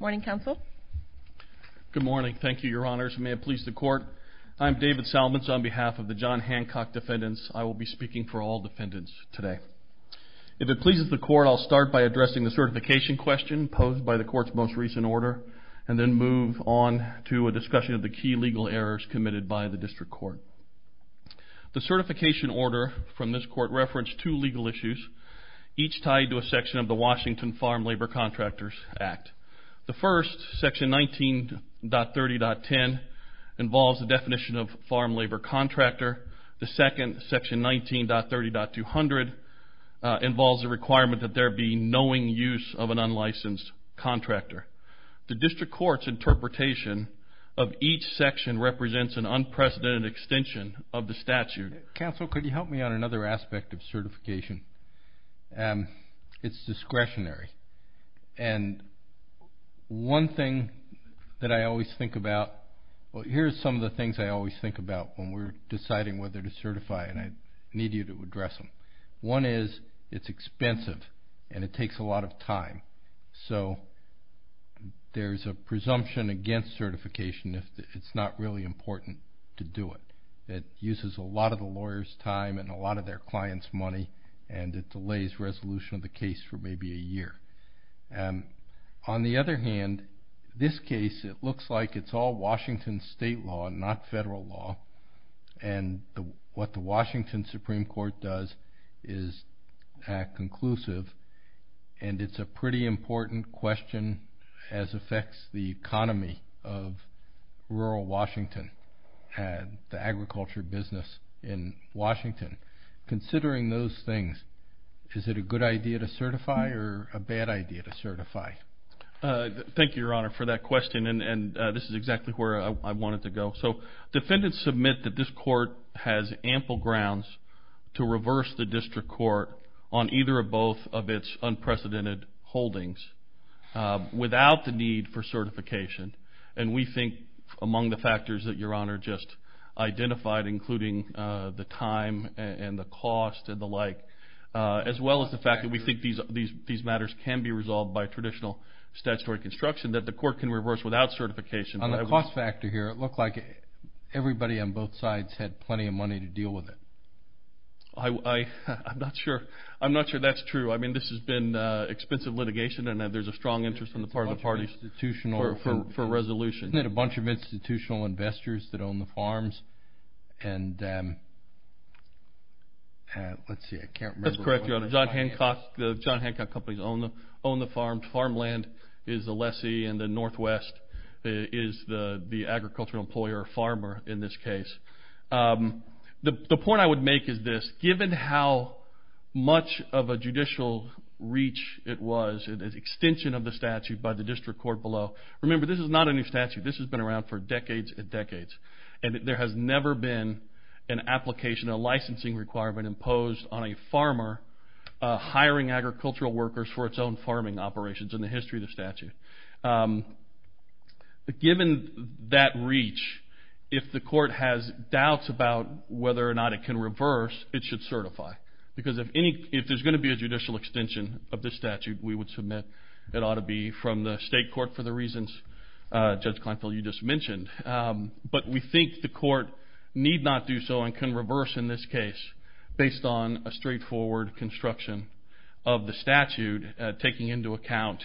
Morning, Counsel. Good morning. Thank you, Your Honors. May it please the Court. I'm David Salmons on behalf of the John Hancock defendants. I will be speaking for all defendants today. If it pleases the Court, I'll start by addressing the certification question posed by the Court's most recent order and then move on to a discussion of the key legal errors committed by the District Court. The certification order from this Court referenced two legal issues, each tied to a section of the Washington Farm Labor Contractors Act. The first, section 19.30.10, involves the definition of farm labor contractor. The second, section 19.30.200, involves the requirement that there be knowing use of an unlicensed contractor. The District Court's interpretation of each section represents an unprecedented extension of the statute. Counsel, could you help me on another aspect of certification? It's discretionary. And one thing that I always think about, well, here's some of the things I always think about when we're deciding whether to certify and I need you to address them. One is, it's expensive and it takes a lot of time. So there's a presumption against certification if it's not really important to do it. It uses a lot of the lawyer's time and a lot of their client's money and it delays resolution of the case for maybe a year. On the other hand, this case, it looks like it's all Washington state law, not federal law. And what the Washington Supreme Court does is act conclusive and it's a pretty important question as affects the economy of rural Washington. And the agriculture business in Washington. Considering those things, is it a good idea to certify or a bad idea to certify? Thank you, Your Honor, for that question. And this is exactly where I wanted to go. So defendants submit that this court has ample grounds to reverse the District Court on either or both of its unprecedented holdings without the need for certification. And we think among the factors that Your Honor just identified, including the time and the cost and the like, as well as the fact that we think these matters can be resolved by traditional statutory construction, that the court can reverse without certification. On the cost factor here, it looked like everybody on both sides had plenty of money to deal with it. I'm not sure that's true. I mean, this has been expensive litigation and there's a strong interest on the part of the parties for resolution. Isn't it a bunch of institutional investors that own the farms? And let's see, I can't remember. That's correct, Your Honor. The John Hancock companies own the farms. Farmland is the lessee and the Northwest is the agricultural employer or farmer in this case. The point I would make is this. Given how much of a judicial reach it was, the extension of the statute by the District Court below. Remember, this is not a new statute. This has been around for decades and decades. And there has never been an application, a licensing requirement imposed on a farmer hiring agricultural workers for its own farming operations in the history of the statute. Given that reach, if the court has doubts about whether or not it can reverse, it should certify. Because if there's going to be a judicial extension of this statute, we would submit it ought to be from the state court for the reasons Judge Kleinfeld, you just mentioned. But we think the court need not do so and can reverse in this case based on a straightforward construction of the statute, taking into account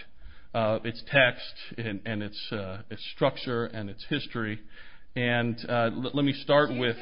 its text and its structure and its history. And let me start with...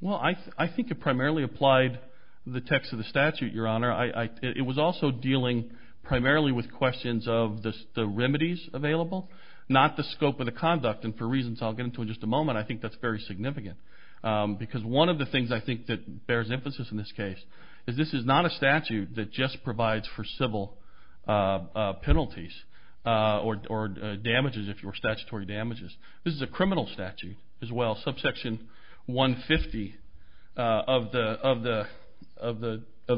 Well, I think it primarily applied the text of the statute, Your Honor. It was also dealing primarily with questions of the remedies available, not the scope of the conduct. And for reasons I'll get into in just a moment, I think that's very significant. Because one of the things I think that bears emphasis in this case is this is not a statute that just provides for civil penalties or damages if you were statutory damages. This is a criminal statute as well. Subsection 150 of the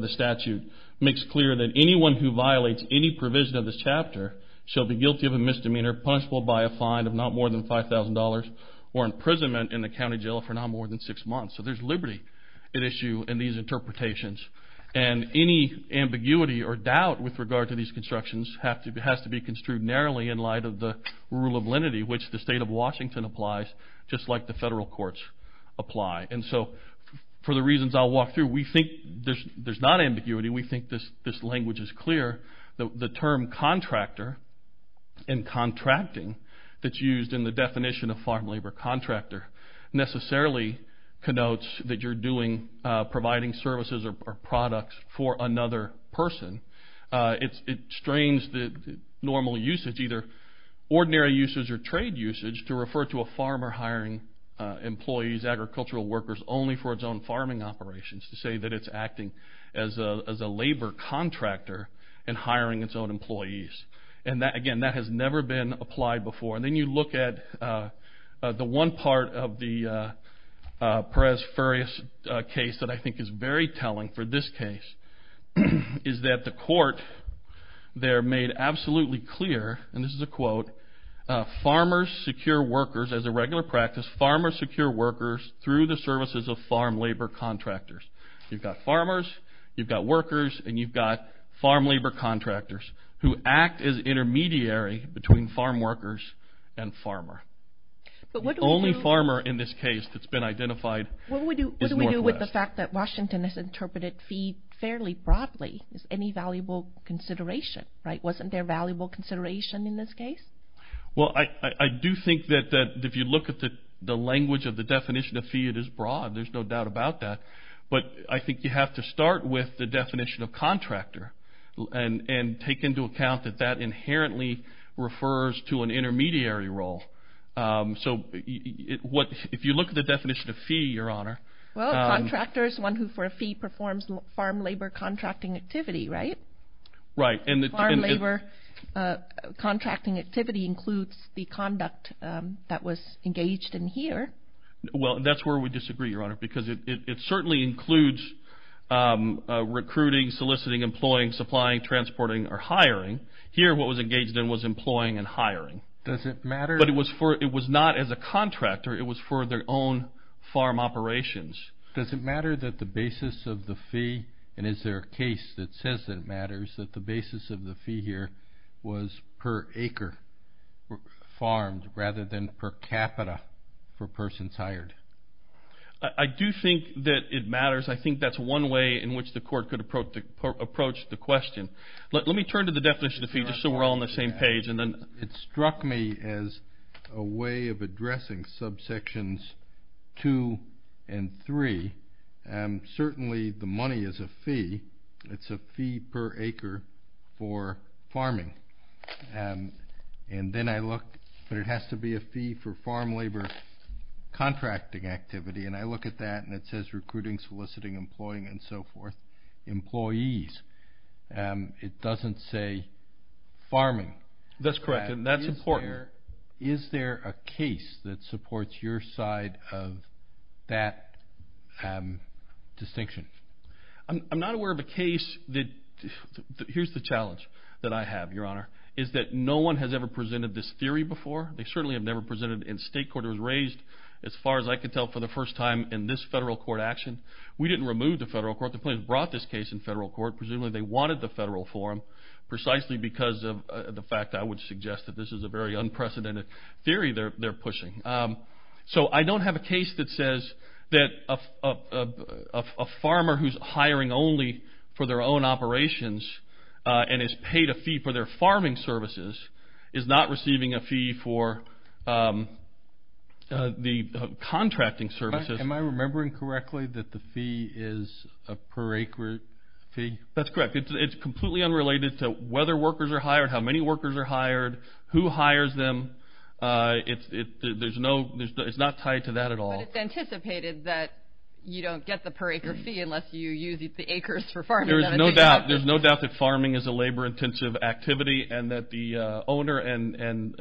statute makes clear that anyone who violates any provision of this chapter shall be guilty of a misdemeanor punishable by a fine of not more than $5,000 or imprisonment in the county jail for not more than six months. So there's liberty at issue in these interpretations. And any ambiguity or doubt with regard to these constructions has to be construed narrowly in light of the rule of lenity, which the state of Washington applies just like the federal courts apply. And so for the reasons I'll walk through, we think there's not ambiguity. We think this language is clear. The term contractor and contracting that's used in the definition of farm labor contractor necessarily connotes that you're providing services or products for another person. It strains the normal usage, either ordinary usage or trade usage, to refer to a farmer hiring employees, agricultural workers, only for its own farming operations. To say that it's acting as a labor contractor and hiring its own employees. And again, that has never been applied before. And then you look at the one part of the Perez Furrious case that I think is very telling for this case is that the court there made absolutely clear, and this is a quote, farmers secure workers as a regular practice, farmers secure workers through the services of farm labor contractors. You've got farmers, you've got workers, and you've got farm labor contractors who act as intermediary between farm workers and farmer. The only farmer in this case that's been identified is Northwest. With the fact that Washington has interpreted fee fairly broadly, is any valuable consideration, right? Wasn't there valuable consideration in this case? Well, I do think that if you look at the language of the definition of fee, it is broad. There's no doubt about that. But I think you have to start with the definition of contractor and take into account that that inherently refers to an intermediary role. So if you look at the definition of fee, Your Honor. Well, a contractor is one who for a fee performs farm labor contracting activity, right? Farm labor contracting activity includes the conduct that was engaged in here. Well, that's where we disagree, Your Honor, because it certainly includes recruiting, soliciting, employing, supplying, transporting, or hiring. Here, what was engaged in was employing and hiring. But it was not as a contractor. It was for their own farm operations. Does it matter that the basis of the fee, and is there a case that says that it matters, that the basis of the fee here was per acre farmed rather than per capita for persons hired? I do think that it matters. I think that's one way in which the court could approach the question. Let me turn to the definition of fee just so we're all on the same page. And I look at that and it says recruiting, soliciting, employing, and so forth. Employees. It doesn't say farming. That's correct, and that's important. Is there a case that supports your side of that distinction? I'm not aware of a case that, here's the challenge that I have, Your Honor, is that no one has ever presented this theory before. They certainly have never presented it in state court. It was raised, as far as I can tell, for the first time in this federal court action. We didn't remove the federal court. The plaintiffs brought this case in federal court. Presumably they wanted the federal forum precisely because of the fact, I would suggest, that this is a very unprecedented theory they're pushing. So I don't have a case that says that a farmer who's hiring only for their own operations and has paid a fee for their farming services is not receiving a fee for the contracting services. Am I remembering correctly that the fee is a per acre fee? That's correct. It's completely unrelated to whether workers are hired, how many workers are hired, who hires them. It's not tied to that at all. But it's anticipated that you don't get the per acre fee unless you use the acres for farming. There's no doubt that farming is a labor-intensive activity and that the owner and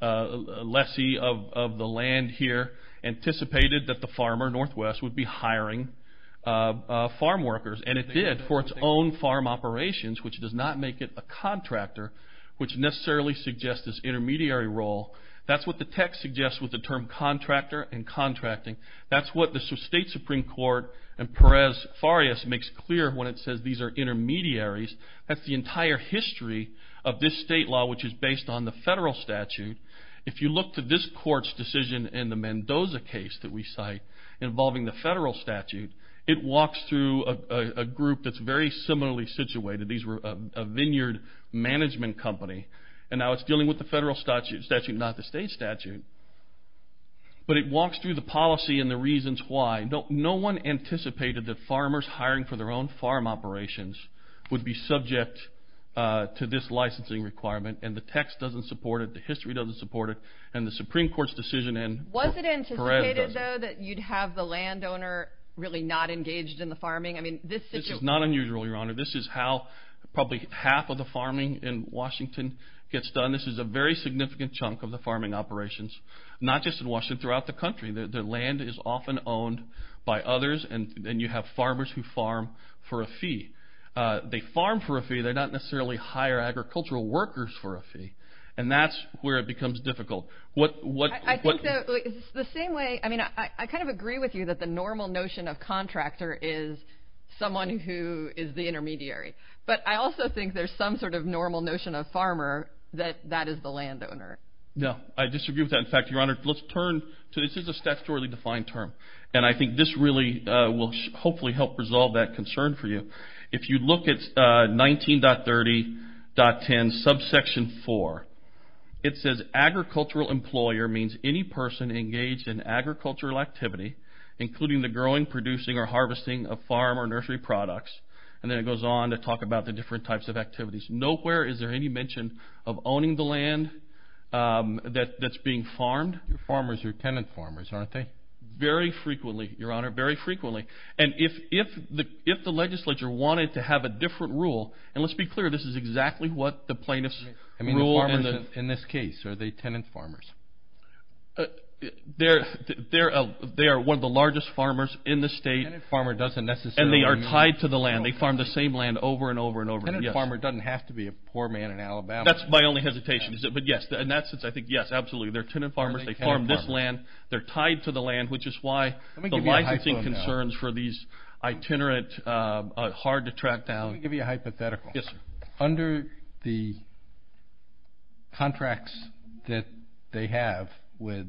lessee of the land here anticipated that the farmer, Northwest, would be hiring farm workers. And it did for its own farm operations, which does not make it a contractor, which necessarily suggests this intermediary role. That's what the text suggests with the term contractor and contracting. That's what the state Supreme Court and Perez-Farias makes clear when it says these are intermediaries. That's the entire history of this state law, which is based on the federal statute. If you look to this court's decision in the Mendoza case that we cite involving the federal statute, it walks through a group that's very similarly situated. These were a vineyard management company. And now it's dealing with the federal statute, not the state statute. But it walks through the policy and the reasons why. No one anticipated that farmers hiring for their own farm operations would be subject to this licensing requirement. And the text doesn't support it. The history doesn't support it. And the Supreme Court's decision in Perez-Farias doesn't. Was it anticipated, though, that you'd have the landowner really not engaged in the farming? This is not unusual, Your Honor. This is how probably half of the farming in Washington gets done. This is a very significant chunk of the farming operations, not just in Washington, throughout the country. The land is often owned by others, and you have farmers who farm for a fee. They farm for a fee. They don't necessarily hire agricultural workers for a fee. And that's where it becomes difficult. I kind of agree with you that the normal notion of contractor is someone who is the intermediary. But I also think there's some sort of normal notion of farmer that that is the landowner. No, I disagree with that. In fact, Your Honor, let's turn to this. This is a statutorily defined term. And I think this really will hopefully help resolve that concern for you. If you look at 19.30.10 subsection 4, it says agricultural employer means any person engaged in agricultural activity, including the growing, producing, or harvesting of farm or nursery products. And then it goes on to talk about the different types of activities. Nowhere is there any mention of owning the land that's being farmed. Farmers are tenant farmers, aren't they? Very frequently, Your Honor. Very frequently. And if the legislature wanted to have a different rule, and let's be clear, this is exactly what the plaintiff's rule is. In this case, are they tenant farmers? They are one of the largest farmers in the state. Tenant farmer doesn't necessarily mean... And they are tied to the land. They farm the same land over and over and over again. Tenant farmer doesn't have to be a poor man in Alabama. That's my only hesitation. But yes, in that sense, I think yes, absolutely. They're tenant farmers. They farm this land. They're tied to the land, which is why the licensing concerns for these itinerant, hard to track down... Let me give you a hypothetical. Yes, sir. Under the contracts that they have with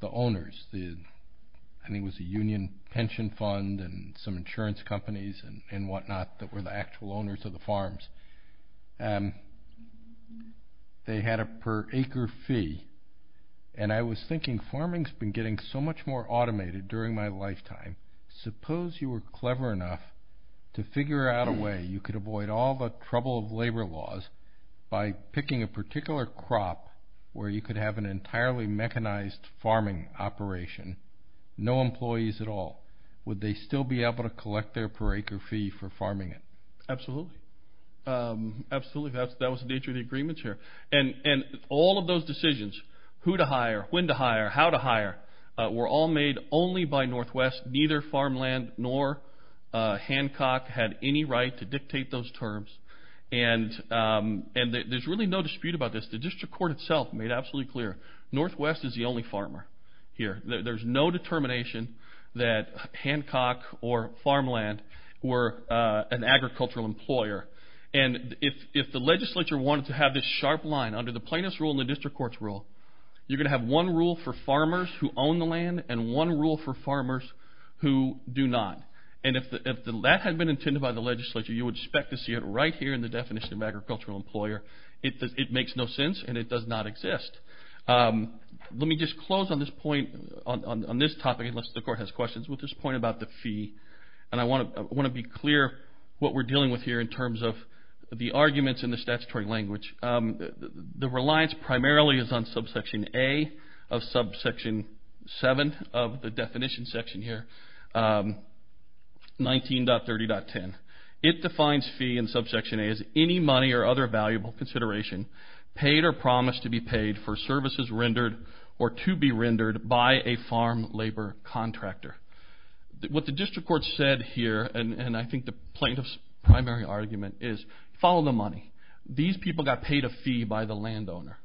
the owners, I think it was a union pension fund and some insurance companies and whatnot that were the actual owners of the farms, they had a per acre fee. And I was thinking farming's been getting so much more automated during my lifetime. Suppose you were clever enough to figure out a way you could avoid all the trouble of labor laws by picking a particular crop where you could have an entirely mechanized farming operation, no employees at all. Would they still be able to collect their per acre fee for farming it? Absolutely. Absolutely. That was the nature of the agreements here. And all of those decisions, who to hire, when to hire, how to hire, were all made only by Northwest. Neither Farmland nor Hancock had any right to dictate those terms. And there's really no dispute about this. The district court itself made absolutely clear, Northwest is the only farmer here. There's no determination that Hancock or Farmland were an agricultural employer. And if the legislature wanted to have this sharp line, under the plaintiff's rule and the district court's rule, you're going to have one rule for farmers who own the land and one rule for farmers who do not. And if that had been intended by the legislature, you would expect to see it right here in the definition of agricultural employer. It makes no sense and it does not exist. Let me just close on this point, on this topic, unless the court has questions, with this point about the fee. And I want to be clear what we're dealing with here in terms of the arguments in the statutory language. The reliance primarily is on subsection A of subsection 7 of the definition section here, 19.30.10. It defines fee in subsection A as any money or other valuable consideration paid or promised to be paid for services rendered or to be rendered by a farm labor contractor. What the district court said here, and I think the plaintiff's primary argument is, follow the money. These people got paid a fee by the landowner.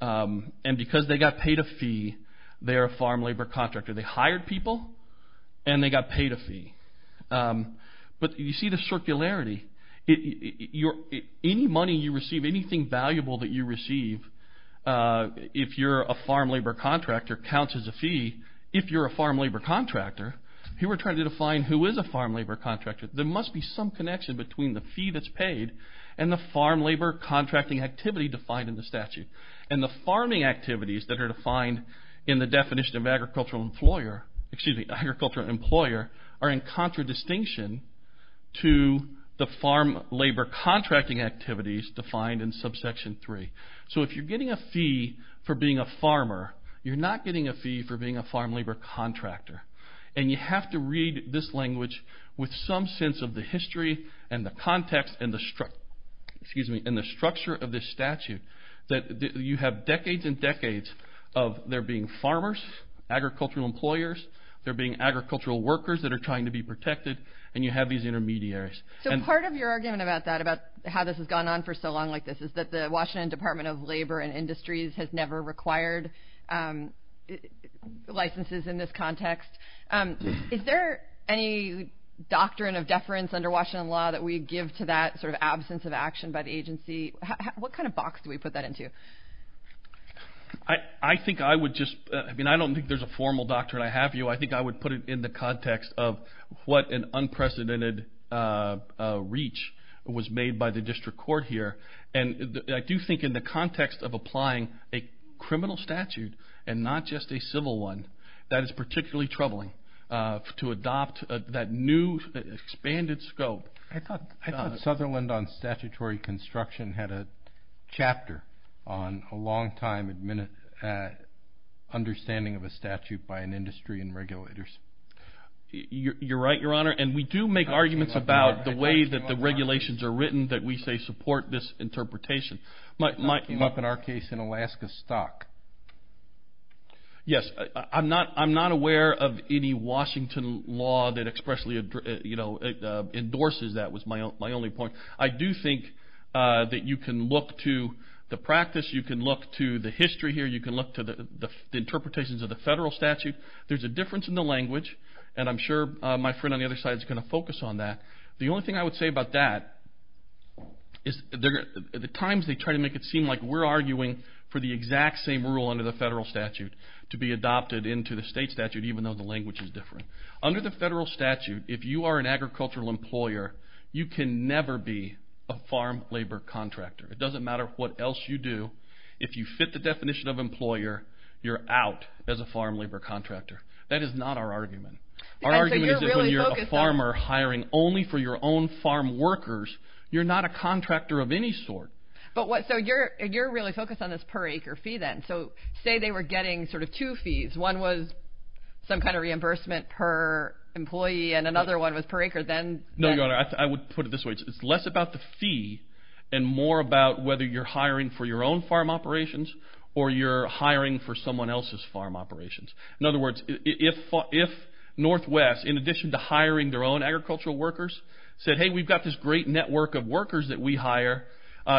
And because they got paid a fee, they're a farm labor contractor. They hired people and they got paid a fee. But you see the circularity. Any money you receive, anything valuable that you receive, if you're a farm labor contractor, counts as a fee. If you're a farm labor contractor, here we're trying to define who is a farm labor contractor. There must be some connection between the fee that's paid and the farm labor contracting activity defined in the statute. And the farming activities that are defined in the definition of agricultural employer, excuse me, agricultural employer, are in contradistinction to the farm labor contracting activities So if you're getting a fee for being a farmer, you're not getting a fee for being a farm labor contractor. And you have to read this language with some sense of the history and the context and the structure of this statute. You have decades and decades of there being farmers, agricultural employers, there being agricultural workers that are trying to be protected, and you have these intermediaries. So part of your argument about that, about how this has gone on for so long like this, is that the Washington Department of Labor and Industries has never required licenses in this context. Is there any doctrine of deference under Washington law that we give to that sort of absence of action by the agency? What kind of box do we put that into? I think I would just, I mean I don't think there's a formal doctrine I have here. I think I would put it in the context of what an unprecedented reach was made by the district court here. And I do think in the context of applying a criminal statute and not just a civil one, that is particularly troubling. To adopt that new expanded scope. I thought Sutherland on statutory construction had a chapter on a long time understanding of a statute by an industry and regulators. You're right, your honor. And we do make arguments about the way that the regulations are written that we say support this interpretation. It came up in our case in Alaska stock. Yes, I'm not aware of any Washington law that expressly endorses that was my only point. I do think that you can look to the practice, you can look to the history here, you can look to the interpretations of the federal statute. There's a difference in the language, and I'm sure my friend on the other side is going to focus on that. The only thing I would say about that is the times they try to make it seem like we're arguing for the exact same rule under the federal statute to be adopted into the state statute even though the language is different. Under the federal statute, if you are an agricultural employer, you can never be a farm labor contractor. It doesn't matter what else you do. If you fit the definition of employer, you're out as a farm labor contractor. That is not our argument. Our argument is if you're a farmer hiring only for your own farm workers, you're not a contractor of any sort. You're really focused on this per acre fee then. Say they were getting two fees. One was some kind of reimbursement per employee and another one was per acre. I would put it this way. It's less about the fee and more about whether you're hiring for your own farm operations or you're hiring for someone else's farm operations. In other words, if Northwest, in addition to hiring their own agricultural workers, said, hey, we've got this great network of workers that we hire.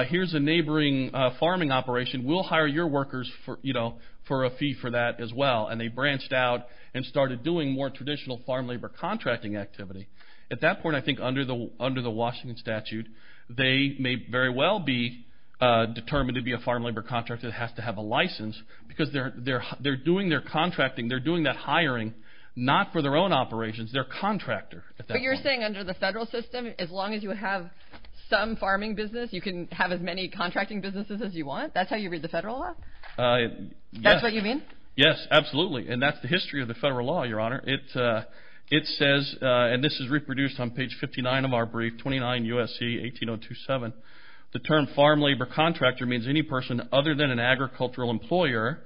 Here's a neighboring farming operation. We'll hire your workers for a fee for that as well. They branched out and started doing more traditional farm labor contracting activity. At that point, I think under the Washington statute, they may very well be determined to be a farm labor contractor that has to have a license because they're doing their contracting. They're doing that hiring, not farm labor operations. They're a contractor at that point. You're saying under the federal system, as long as you have some farming business, you can have as many contracting businesses as you want? That's how you read the federal law? That's what you mean? Yes, absolutely. That's the history of the federal law, Your Honor. This is reproduced on page 59 of our brief, 29 U.S.C. 18027. The term farm labor contractor means any person other than an agricultural employer.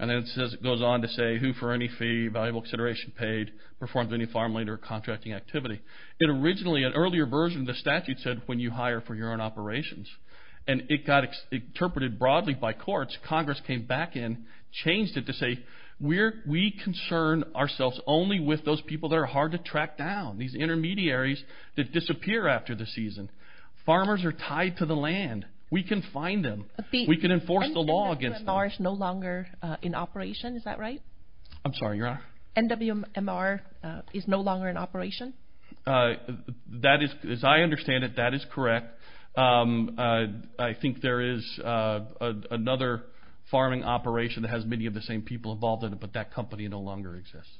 It goes on to say, anybody who for any fee, valuable consideration paid, performs any farm labor contracting activity. Originally, an earlier version of the statute said, when you hire for your own operations. It got interpreted broadly by courts. Congress came back in, changed it to say, we concern ourselves only with those people that are hard to track down, these intermediaries that disappear after the season. Farmers are tied to the land. We can find them. We can enforce the law against them. NWMR is no longer in operation. Is that right? I'm sorry, Your Honor. NWMR is no longer in operation? As I understand it, that is correct. I think there is another farming operation that has many of the same people involved in it, but that company no longer exists.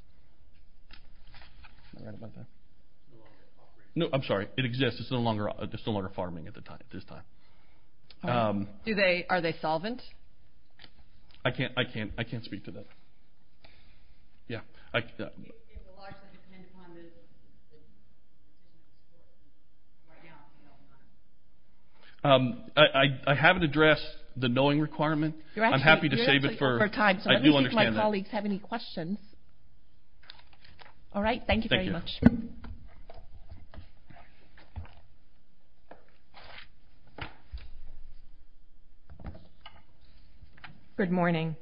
Am I right about that? No, I'm sorry. It exists. It's no longer farming at this time. Are they solvent? I can't speak to that. Yeah. I haven't addressed the knowing requirement. I'm happy to save it for time. I do understand that. Let me see if my colleagues have any questions. All right, thank you very much. Good morning.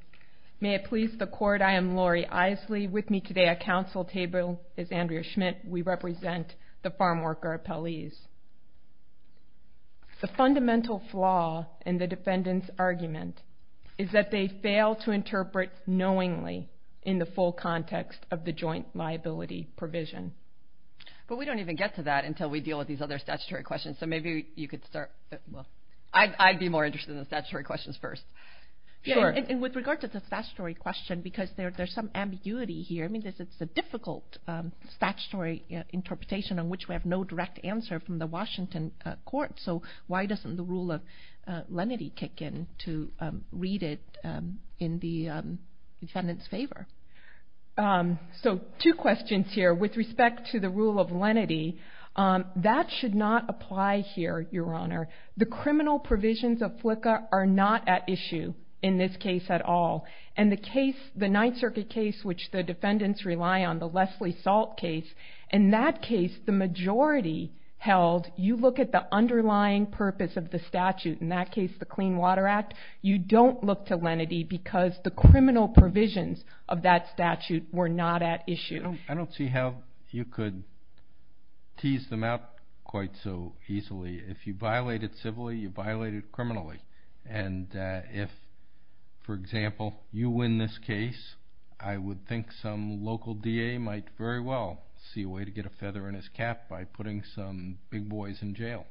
May it please the court, I am Lori Isley. With me today at council table is Andrea Schmidt. We represent the farm worker appellees. The fundamental flaw in the defendant's argument is that they fail to interpret knowingly They fail to interpret knowingly They fail to interpret knowingly in the full context of the joint liability provision. But we don't even get to that until we deal with these other statutory questions. Maybe you could start. I'd be more interested in the statutory questions first. Sure. With regard to the statutory question, because there's some ambiguity here. It's a difficult statutory interpretation on which we have no direct answer from the Washington court. Why doesn't the rule of lenity kick in to read it in the defendant's favor? Two questions here. With respect to the rule of lenity, that should not apply here, Your Honor. The criminal provisions of FLCA are not at issue in this case at all. And the case, the Ninth Circuit case, which the defendants rely on, the Leslie Salt case, in that case, the majority held you look at the underlying purpose of the statute. In that case, the Clean Water Act, you don't look to lenity because the criminal provisions of that statute were not at issue. I don't see how you could tease them out quite so easily. If you violate it civilly, you violate it criminally. And if, for example, you win this case, I would think some local DA might very well see a way to get a feather in his cap by putting some big boys in jail.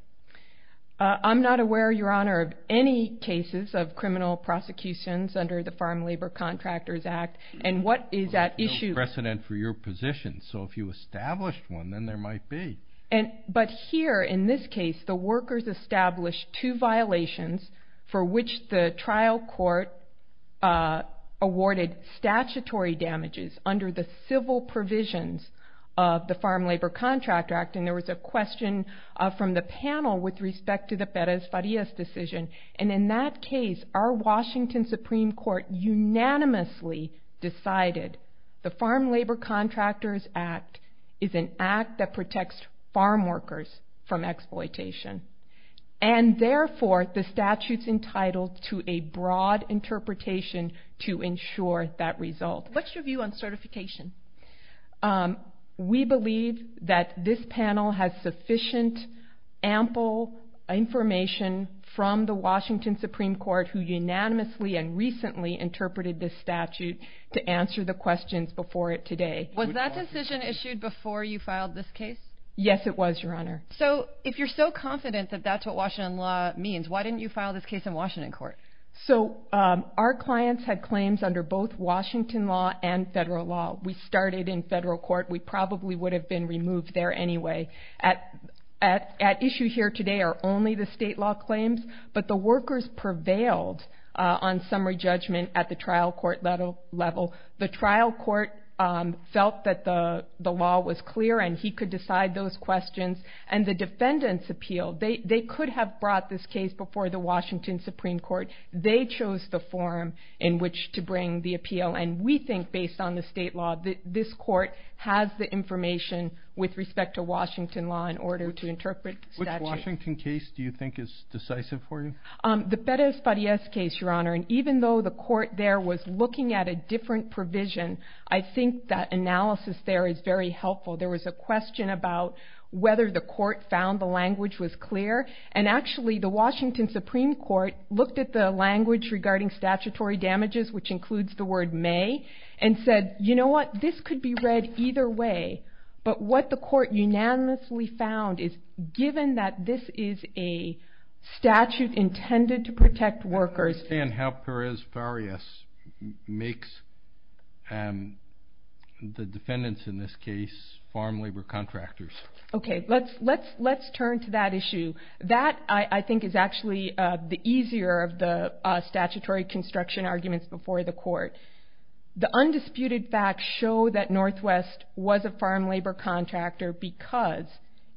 I'm not aware, Your Honor, of any cases of criminal prosecutions under the Farm Labor Contractors Act. And what is at issue? There's no precedent for your position. So if you established one, then there might be. But here, in this case, the workers established two violations for which the trial court awarded statutory damages under the civil provisions of the Farm Labor Contractor Act. And there was a question from the panel with respect to the Perez-Farias decision. And in that case, our Washington Supreme Court unanimously decided the Farm Labor Contractors Act is an act that protects farm workers from exploitation. And therefore, the statute's entitled to a broad interpretation to ensure that result. What's your view on certification? We believe that this panel has sufficient, ample information from the Washington Supreme Court who unanimously and recently interpreted this statute to answer the questions before it today. Was that decision issued before you filed this case? Yes, it was, Your Honor. So if you're so confident that that's what Washington law means, why didn't you file this case in Washington court? So our clients had claims under both Washington law and federal law. We started in federal court. We probably would have been removed there anyway. At issue here today are only the state law claims, but the workers prevailed on summary judgment at the trial court level. The trial court felt that the law was clear and he could decide those questions. And the defendant's appeal, they could have brought this case before the Washington Supreme Court. They chose the forum in which to bring the appeal. And we think based on the state law that this court has the information about the Washington law in order to interpret the statute. Which Washington case do you think is decisive for you? The Perez-Farias case, Your Honor. And even though the court there was looking at a different provision, I think that analysis there is very helpful. There was a question about whether the court found the language was clear. And actually the Washington Supreme Court looked at the language regarding statutory damages, and what they successfully found is given that this is a statute intended to protect workers. I understand how Perez-Farias makes the defendants in this case farm labor contractors. Okay, let's turn to that issue. That I think is actually the easier of the statutory construction arguments before the court. The undisputed facts show that Northwest was a farm labor contractor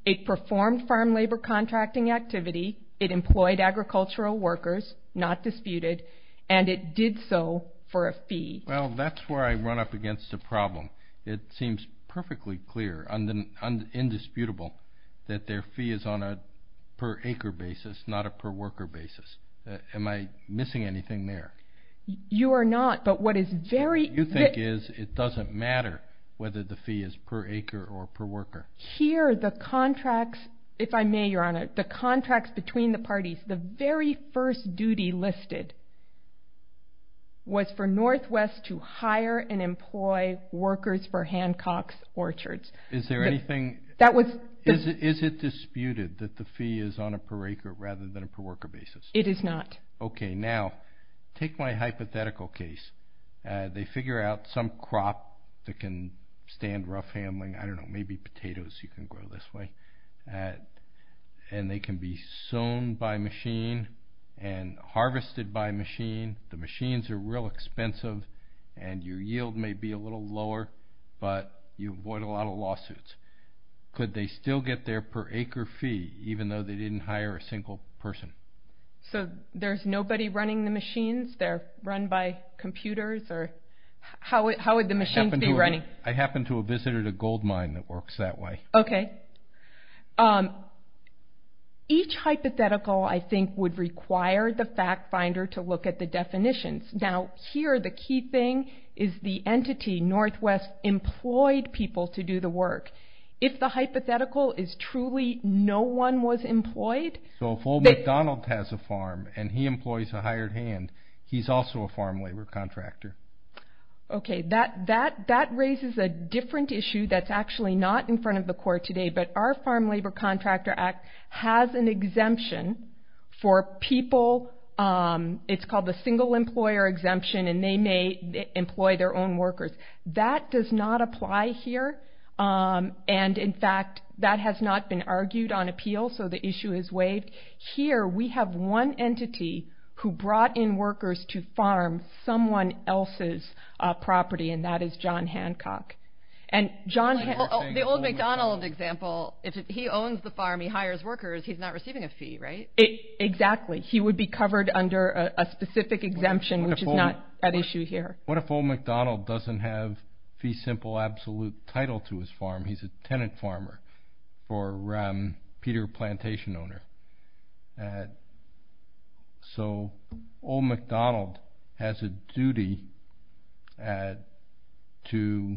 it performed farm labor contracting activity, it employed agricultural workers, not disputed, and it did so for a fee. Well, that's where I run up against a problem. It seems perfectly clear, indisputable that their fee is on a per acre basis, not a per worker basis. Am I missing anything there? You are not, but what is very... What you think is, it doesn't matter whether the contracts, if I may, Your Honor, the contracts between the parties, the very first duty listed was for Northwest to hire and employ workers for Hancock's Orchards. Is there anything... That was... Is it disputed that the fee is on a per acre rather than a per worker basis? It is not. Okay, now, take my hypothetical case. They figure out some crop that can stand rough handling. I don't know, maybe potatoes you can grow this way, and they can be sown by machine and harvested by machine. The machines are real expensive and your yield may be a little lower, but you avoid a lot of lawsuits. Could they still get their per acre fee even though they didn't hire a single person? So there's nobody running the machines? They're run by computers? How would the machines be running? I happened to have visited a gold mine that works that way. Okay. Each hypothetical, I think, would require the fact finder to look at the definitions. Now, here, the key thing is the entity, Northwest, employed people to do the work. If the hypothetical is truly no one was employed... So if Old MacDonald has a farm in his hand, he's also a farm labor contractor. Okay. That raises a different issue that's actually not in front of the court today, but our Farm Labor Contractor Act has an exemption for people. It's called the single employer exemption, and they may employ their own workers. That does not apply here. And, in fact, that has not been argued on appeal, so the issue is waived. If you bring in workers to farm someone else's property, and that is John Hancock. The Old MacDonald example, if he owns the farm, he hires workers, he's not receiving a fee, right? Exactly. He would be covered under a specific exemption, which is not at issue here. What if Old MacDonald doesn't have fee simple absolute title to his farm? He's a tenant farmer and Old MacDonald has a duty to,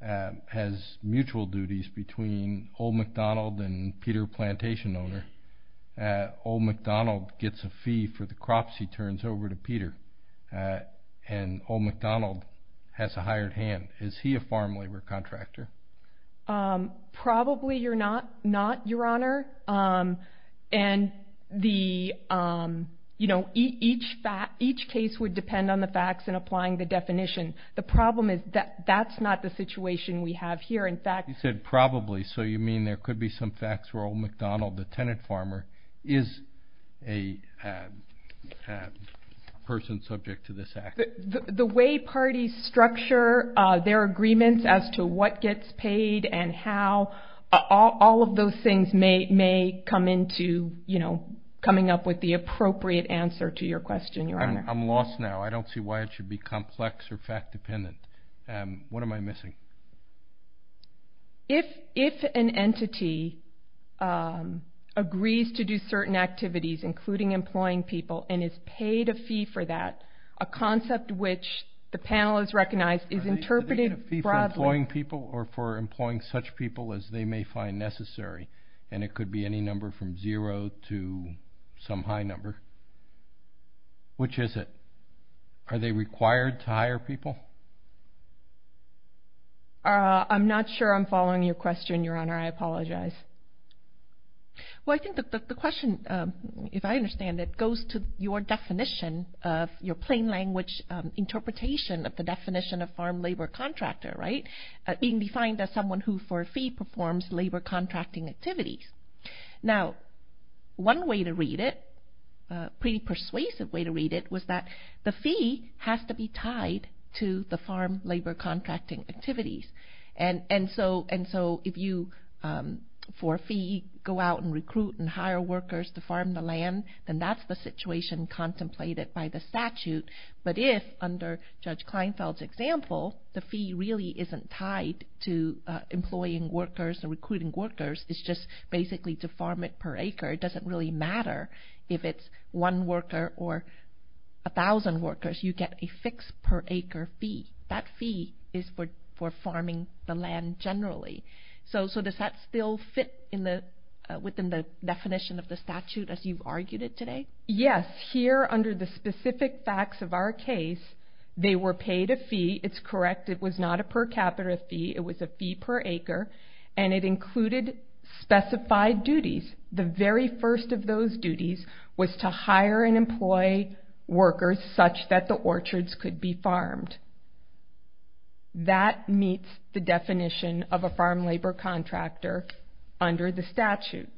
has mutual duties between Old MacDonald and Peter, plantation owner. Old MacDonald gets a fee for the crops he turns over to Peter, and Old MacDonald has a hired hand. Is he a farm labor contractor? Probably you're not, not, Your Honor. And the, you know, each case would depend on the facts and applying the definition. The problem is that that's not the situation we have here. In fact, You said probably, so you mean there could be some facts where Old MacDonald, the tenant farmer, is a person subject to this act? The way parties structure their agreements as to what gets paid and how, all of those things may come into, you know, coming up with the appropriate answer to your question, Your Honor. I'm lost now. I don't see why it should be complex or fact dependent. What am I missing? If, if an entity agrees to do certain activities, including employing people, and is paid a fee for that, a concept which the panel has recognized is interpreted broadly. Are they getting a fee for employing people or for employing such people as they may find necessary? And it could be any number from zero to some high number. Which is it? Are they required to hire people? I'm not sure I'm following your question, Your Honor. I apologize. Well, I think that the question, if I understand it, goes to your definition of your plain language interpretation of the definition of farm labor contractor, right? Being defined as someone who for a fee performs labor contracting activities. Now, one way to read it, a pretty persuasive way to read it, was that the fee has to be tied to the farm labor contracting activities. And so, and so if you, for a fee, go out and recruit and hire workers to farm the land, then that's the situation contemplated by the statute. But if, under Judge Kleinfeld's example, the fee really isn't tied to employing workers or recruiting workers. It's just basically to farm it per acre. It doesn't really matter if it's one worker or a thousand workers. You get a fixed per acre fee. That fee is for farming the land generally. So does that still fit within the definition of the statute as you've argued it today? Yes. Here, under the specific facts of our case, they were paid a fee. It's correct. It was not a per capita fee. It was a fee per acre. And it included specified duties. The very first of those duties was to hire and employ workers such that the orchards could be farmed. That meets the definition of a farm labor contractor under the statute.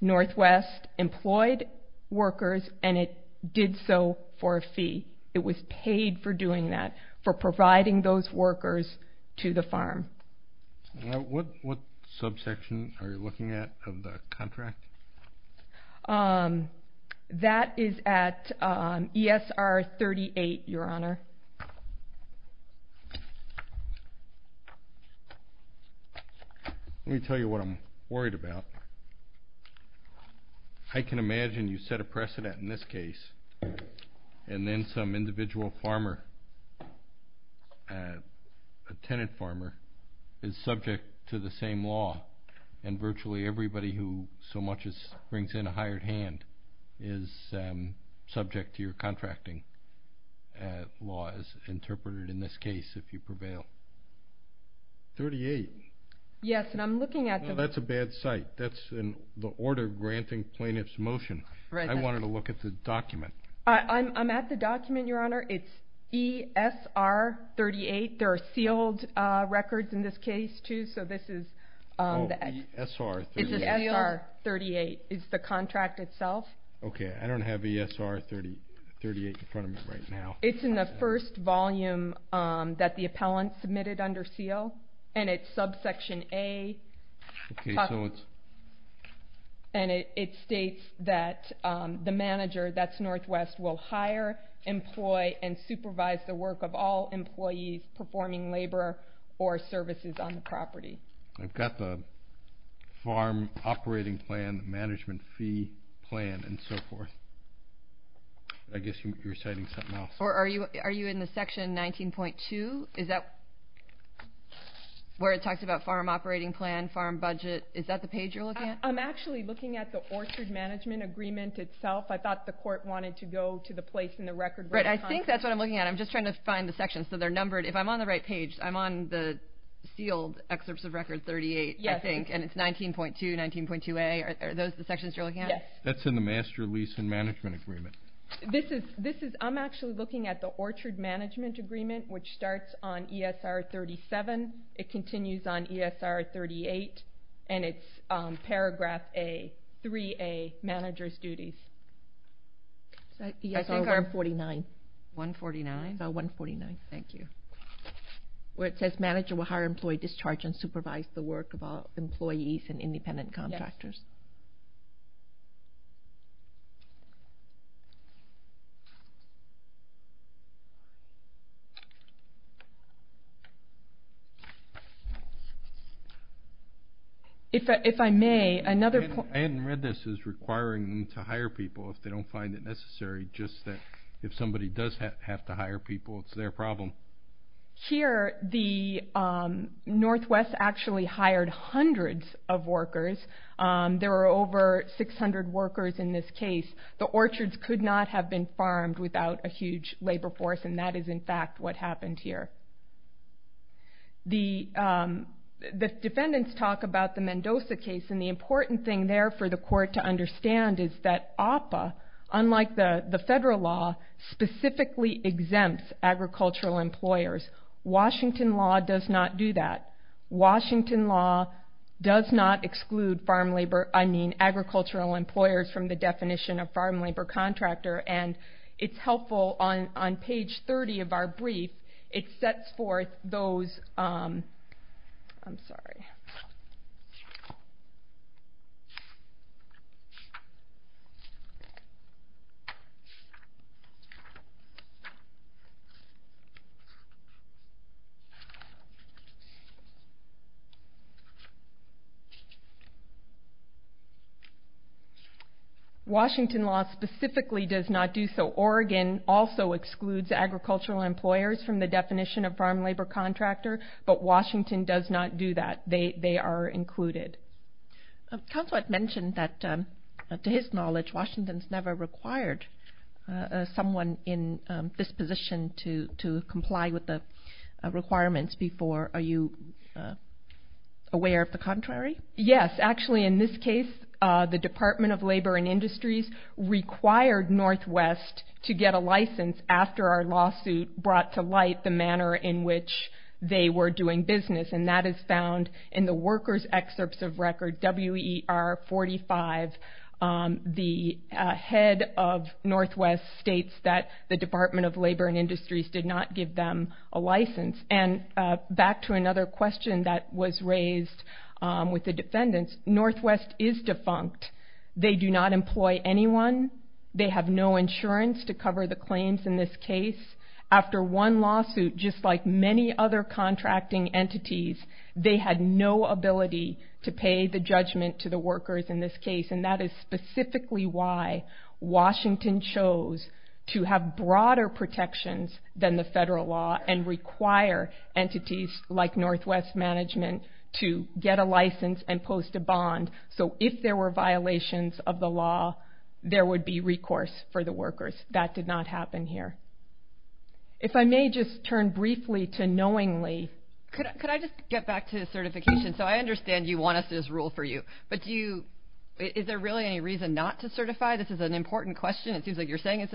Northwest employed workers and it did so for a fee. It was paid for doing that, for providing those workers to the farm. What subsection are you looking at of the contract? That is at ESR 38, Your Honor. Let me tell you what I'm worried about. I can imagine you set a precedent in this case and then some individual farmer, a tenant farmer is subject to the same law and virtually everybody who so much as brings in a hired hand is subject to your contracting laws interpreted in this case if you prevail. 38. Yes. And I'm looking at them. That's a bad site. That's in the order granting plaintiffs motion. I wanted to look at the document. I'm at the document, Your Honor. It's ESR 38. There are sealed records in this case, too. So this is ESR 38. It's the contract itself. Okay. I don't have ESR 38 in front of me right now. It's in the first volume that the appellant submitted under seal and it's subsection A. And it states that the manager that's Northwest will hire, employ, and supervise the work of all employees performing labor or services on the property. I've got the farm operating plan, management fee plan, and so forth. I guess you're citing something else. Are you in the section 19.2? Is that where it talks about farm operating plan, farm budget? Is that the page you're looking at? I'm actually looking at the orchard management agreement itself. I thought the court wanted to go to the place in the record right behind it. Right. I'm on the sealed excerpts of record 38, I think, and it's 19.2, 19.2A. Are those the sections you're looking at? Yes. That's in the master lease and management agreement. I'm actually looking at the orchard management agreement, which starts on ESR 37. It continues on ESR 38 and it's paragraph A, 3A, manager's duties. ESR 149. 149? ESR 149. Thank you. Where it says manager will hire employee discharge and supervise the work of all employees and independent contractors. Yes. If I may, another point- I hadn't read this as requiring them to hire people if they don't find it necessary, just that if somebody does have to hire people, it's their problem. Here, the Northwest actually hired hundreds of workers. There were over 600 workers in this case. The orchards could not have been farmed without a huge labor force and that is, in fact, what happened here. The defendants talk about the Mendoza case and the important thing there for the court to understand is that APA, unlike the federal law, specifically exempts agricultural employees from the definition of farm labor contractor. Washington law does not do that. Washington law does not exclude farm labor- I mean, agricultural employers from the definition of farm labor contractor and it's helpful on page 30 of our brief. It sets forth those- I'm sorry. Washington law specifically does not do so. Oregon also excludes agricultural employers from the definition of farm labor contractor but Washington does not do that. They are included. required someone in this position to comply with the farm labor contract. It's not a requirement to comply with the farm labor contract. It's not a requirement to comply with the requirements before. Are you aware of the contrary? Yes. Actually, in this case, the Department of Labor and Industries required Northwest to get a license after our lawsuit brought to light the manner in which they were doing business and that is found in the workers excerpts of record WER 45. The head of Northwest states that the Department of Labor and Industries did not give them a license. And back to another question that was raised with the defendants, Northwest is defunct. They do not employ anyone. They have no insurance to cover the claims in this case. After one lawsuit, just like many other contracting entities, they had no ability to pay the judgment to the workers in this case. And that is specifically why Washington chose to have broader protections than the federal law and require entities like Northwest management to get a license and post a bond. So if there were violations of the law, there would be recourse for the workers. That did not happen here. If I may just turn briefly to knowingly. Can I get back to certification. Is there any reason not to certify? This is an important question. It's purely state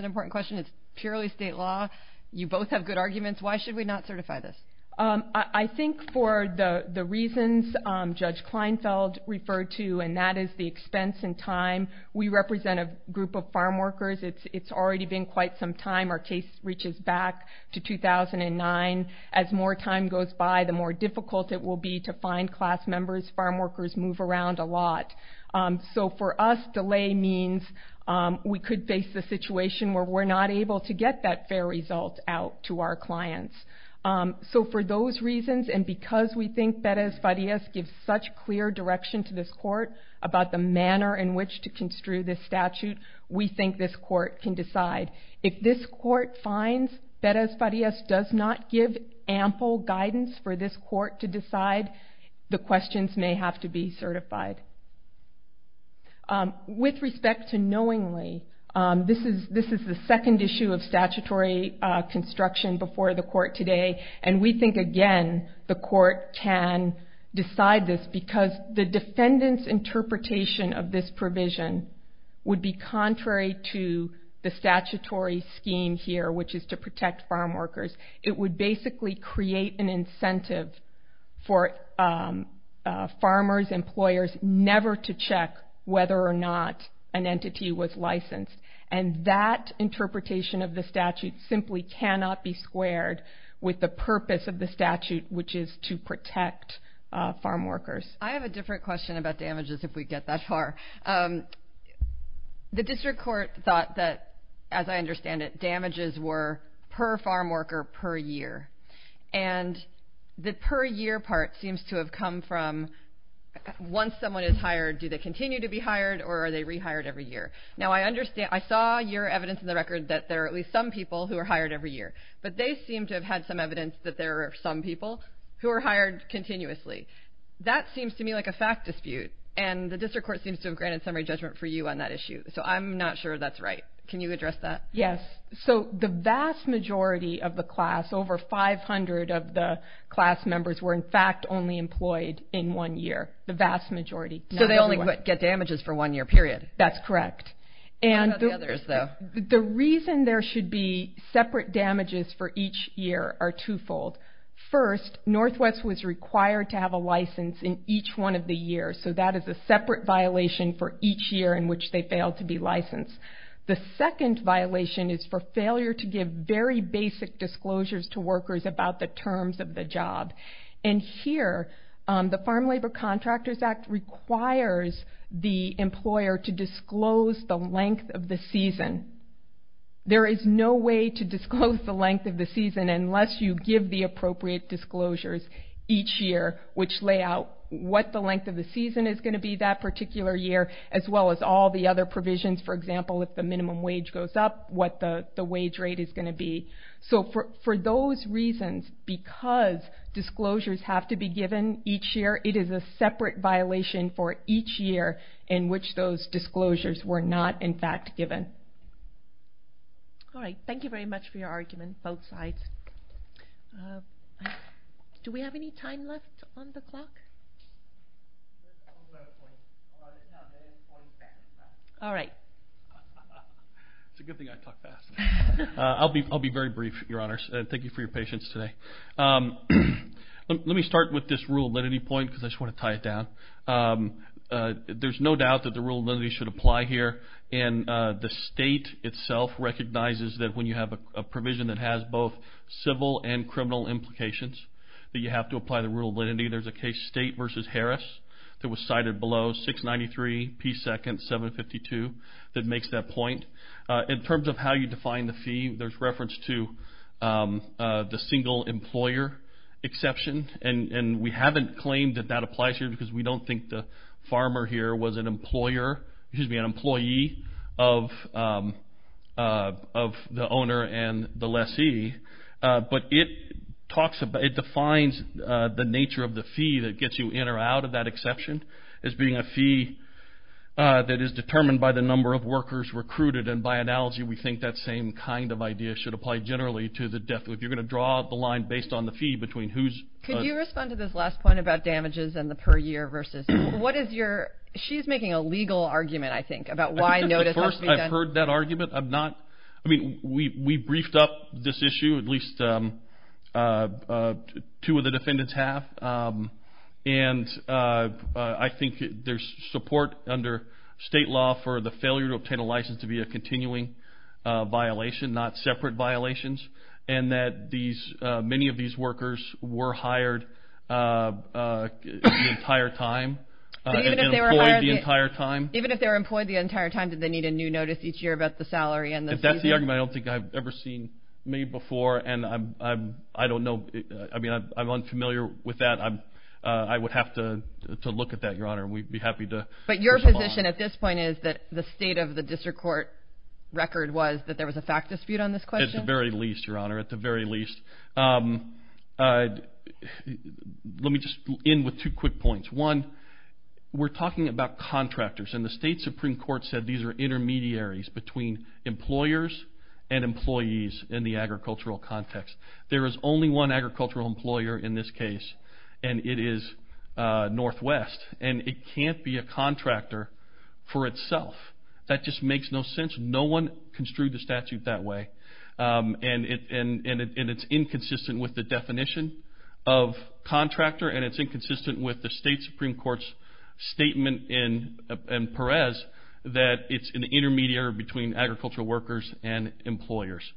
construction before the court today. We think again the court can decide this because the defendants interpretation of this provision would be contrary to the statutory scheme here which is to protect farm workers. It would basically create an incentive for farmers, employers, never to check whether or not an entity was licensed. That interpretation cannot be squared with the purpose of the statute which is to protect farm workers. I have a different question about damages if we get that far. The district court thought damages were per farm worker per year. The per year part seems to have come from once someone is hired, do they continue to be hired or are they rehired every year? I saw your evidence that there are some people who are hired every year but they seem to have some evidence that there are some people who are hired continuously. That seems like a fact dispute. The district court seems to have granted summary judgment for you on that issue. I'm not sure that's right. Can you address that? Yes. The vast majority of the class, over 500 of the class members were in fact only employed in one year. So they only get damages for one year period. That's correct. The reason there should be separate damages for each year are two fold. First, Northwest was required to have a license in each one of the years. So that is a separate violation for each year. The second violation is for failure to give very basic disclosures for each year. There is no way to disclose the length of the season unless you give the appropriate disclosures each year which lay out what the length of the season is going to be that particular year as well as all the other provisions. For example, if the minimum wage goes up, what the wage rate is going to be. For those reasons, because disclosures have to be given each year, it is a separate violation for each year in which those disclosures were not in fact given. Thank you very much for your argument both sides. Do we have any time left on the clock? All right. It is a good thing I talk fast. I will be very brief. Thank you for your patience today. Let me start with this rule because I want to tie it down. There is no doubt that the rule should apply here and the state itself recognizes that when you have a provision that has both civil and criminal implications that you have to apply the rule. In terms of how you define the fee, there is reference to the single employer exception. We haven't claimed that that applies here because we don't think the farmer here was an employee of the owner and the lessee. But it defines the nature of the fee that gets you in or out of that exception as being a fee that is determined by the number of workers recruited. By analogy, we think that same kind of idea should apply generally to the single employer exception. I think there is support under state law for the failure to continuing violation, not separate violations, and that these exceptions should be defined as a single employer exception that is not single employer exception. Let me just end with two quick points. One, we're talking about contractors and the state supreme court said these are intermediaries between employers and employees in the agricultural context. There is only one agricultural employer in this case and it is Northwest. It can't be a contractor for itself. That just makes no sense. No one construed the statute that way. It's inconsistent with the definition of contractor and it's inconsistent with the state supreme court's statement in Perez that it's an intermediary between employers inconsistent with the definition of contractor and it's inconsistent with the state supreme court's statement in Perez that it's an intermediary between employers and employees. It's inconsistent with the state supreme entrepreneurs and employers. That's it. Thank you. Do we understand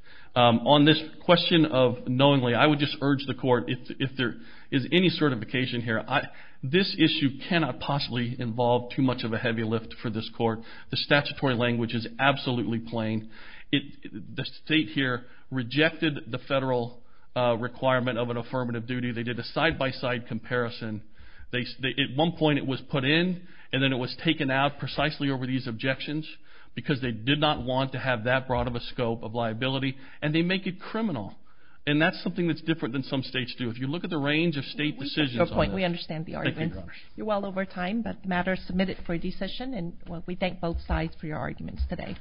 the argument? You're well over time, but the matter is submitted for a decision and we thank both sides for your arguments today.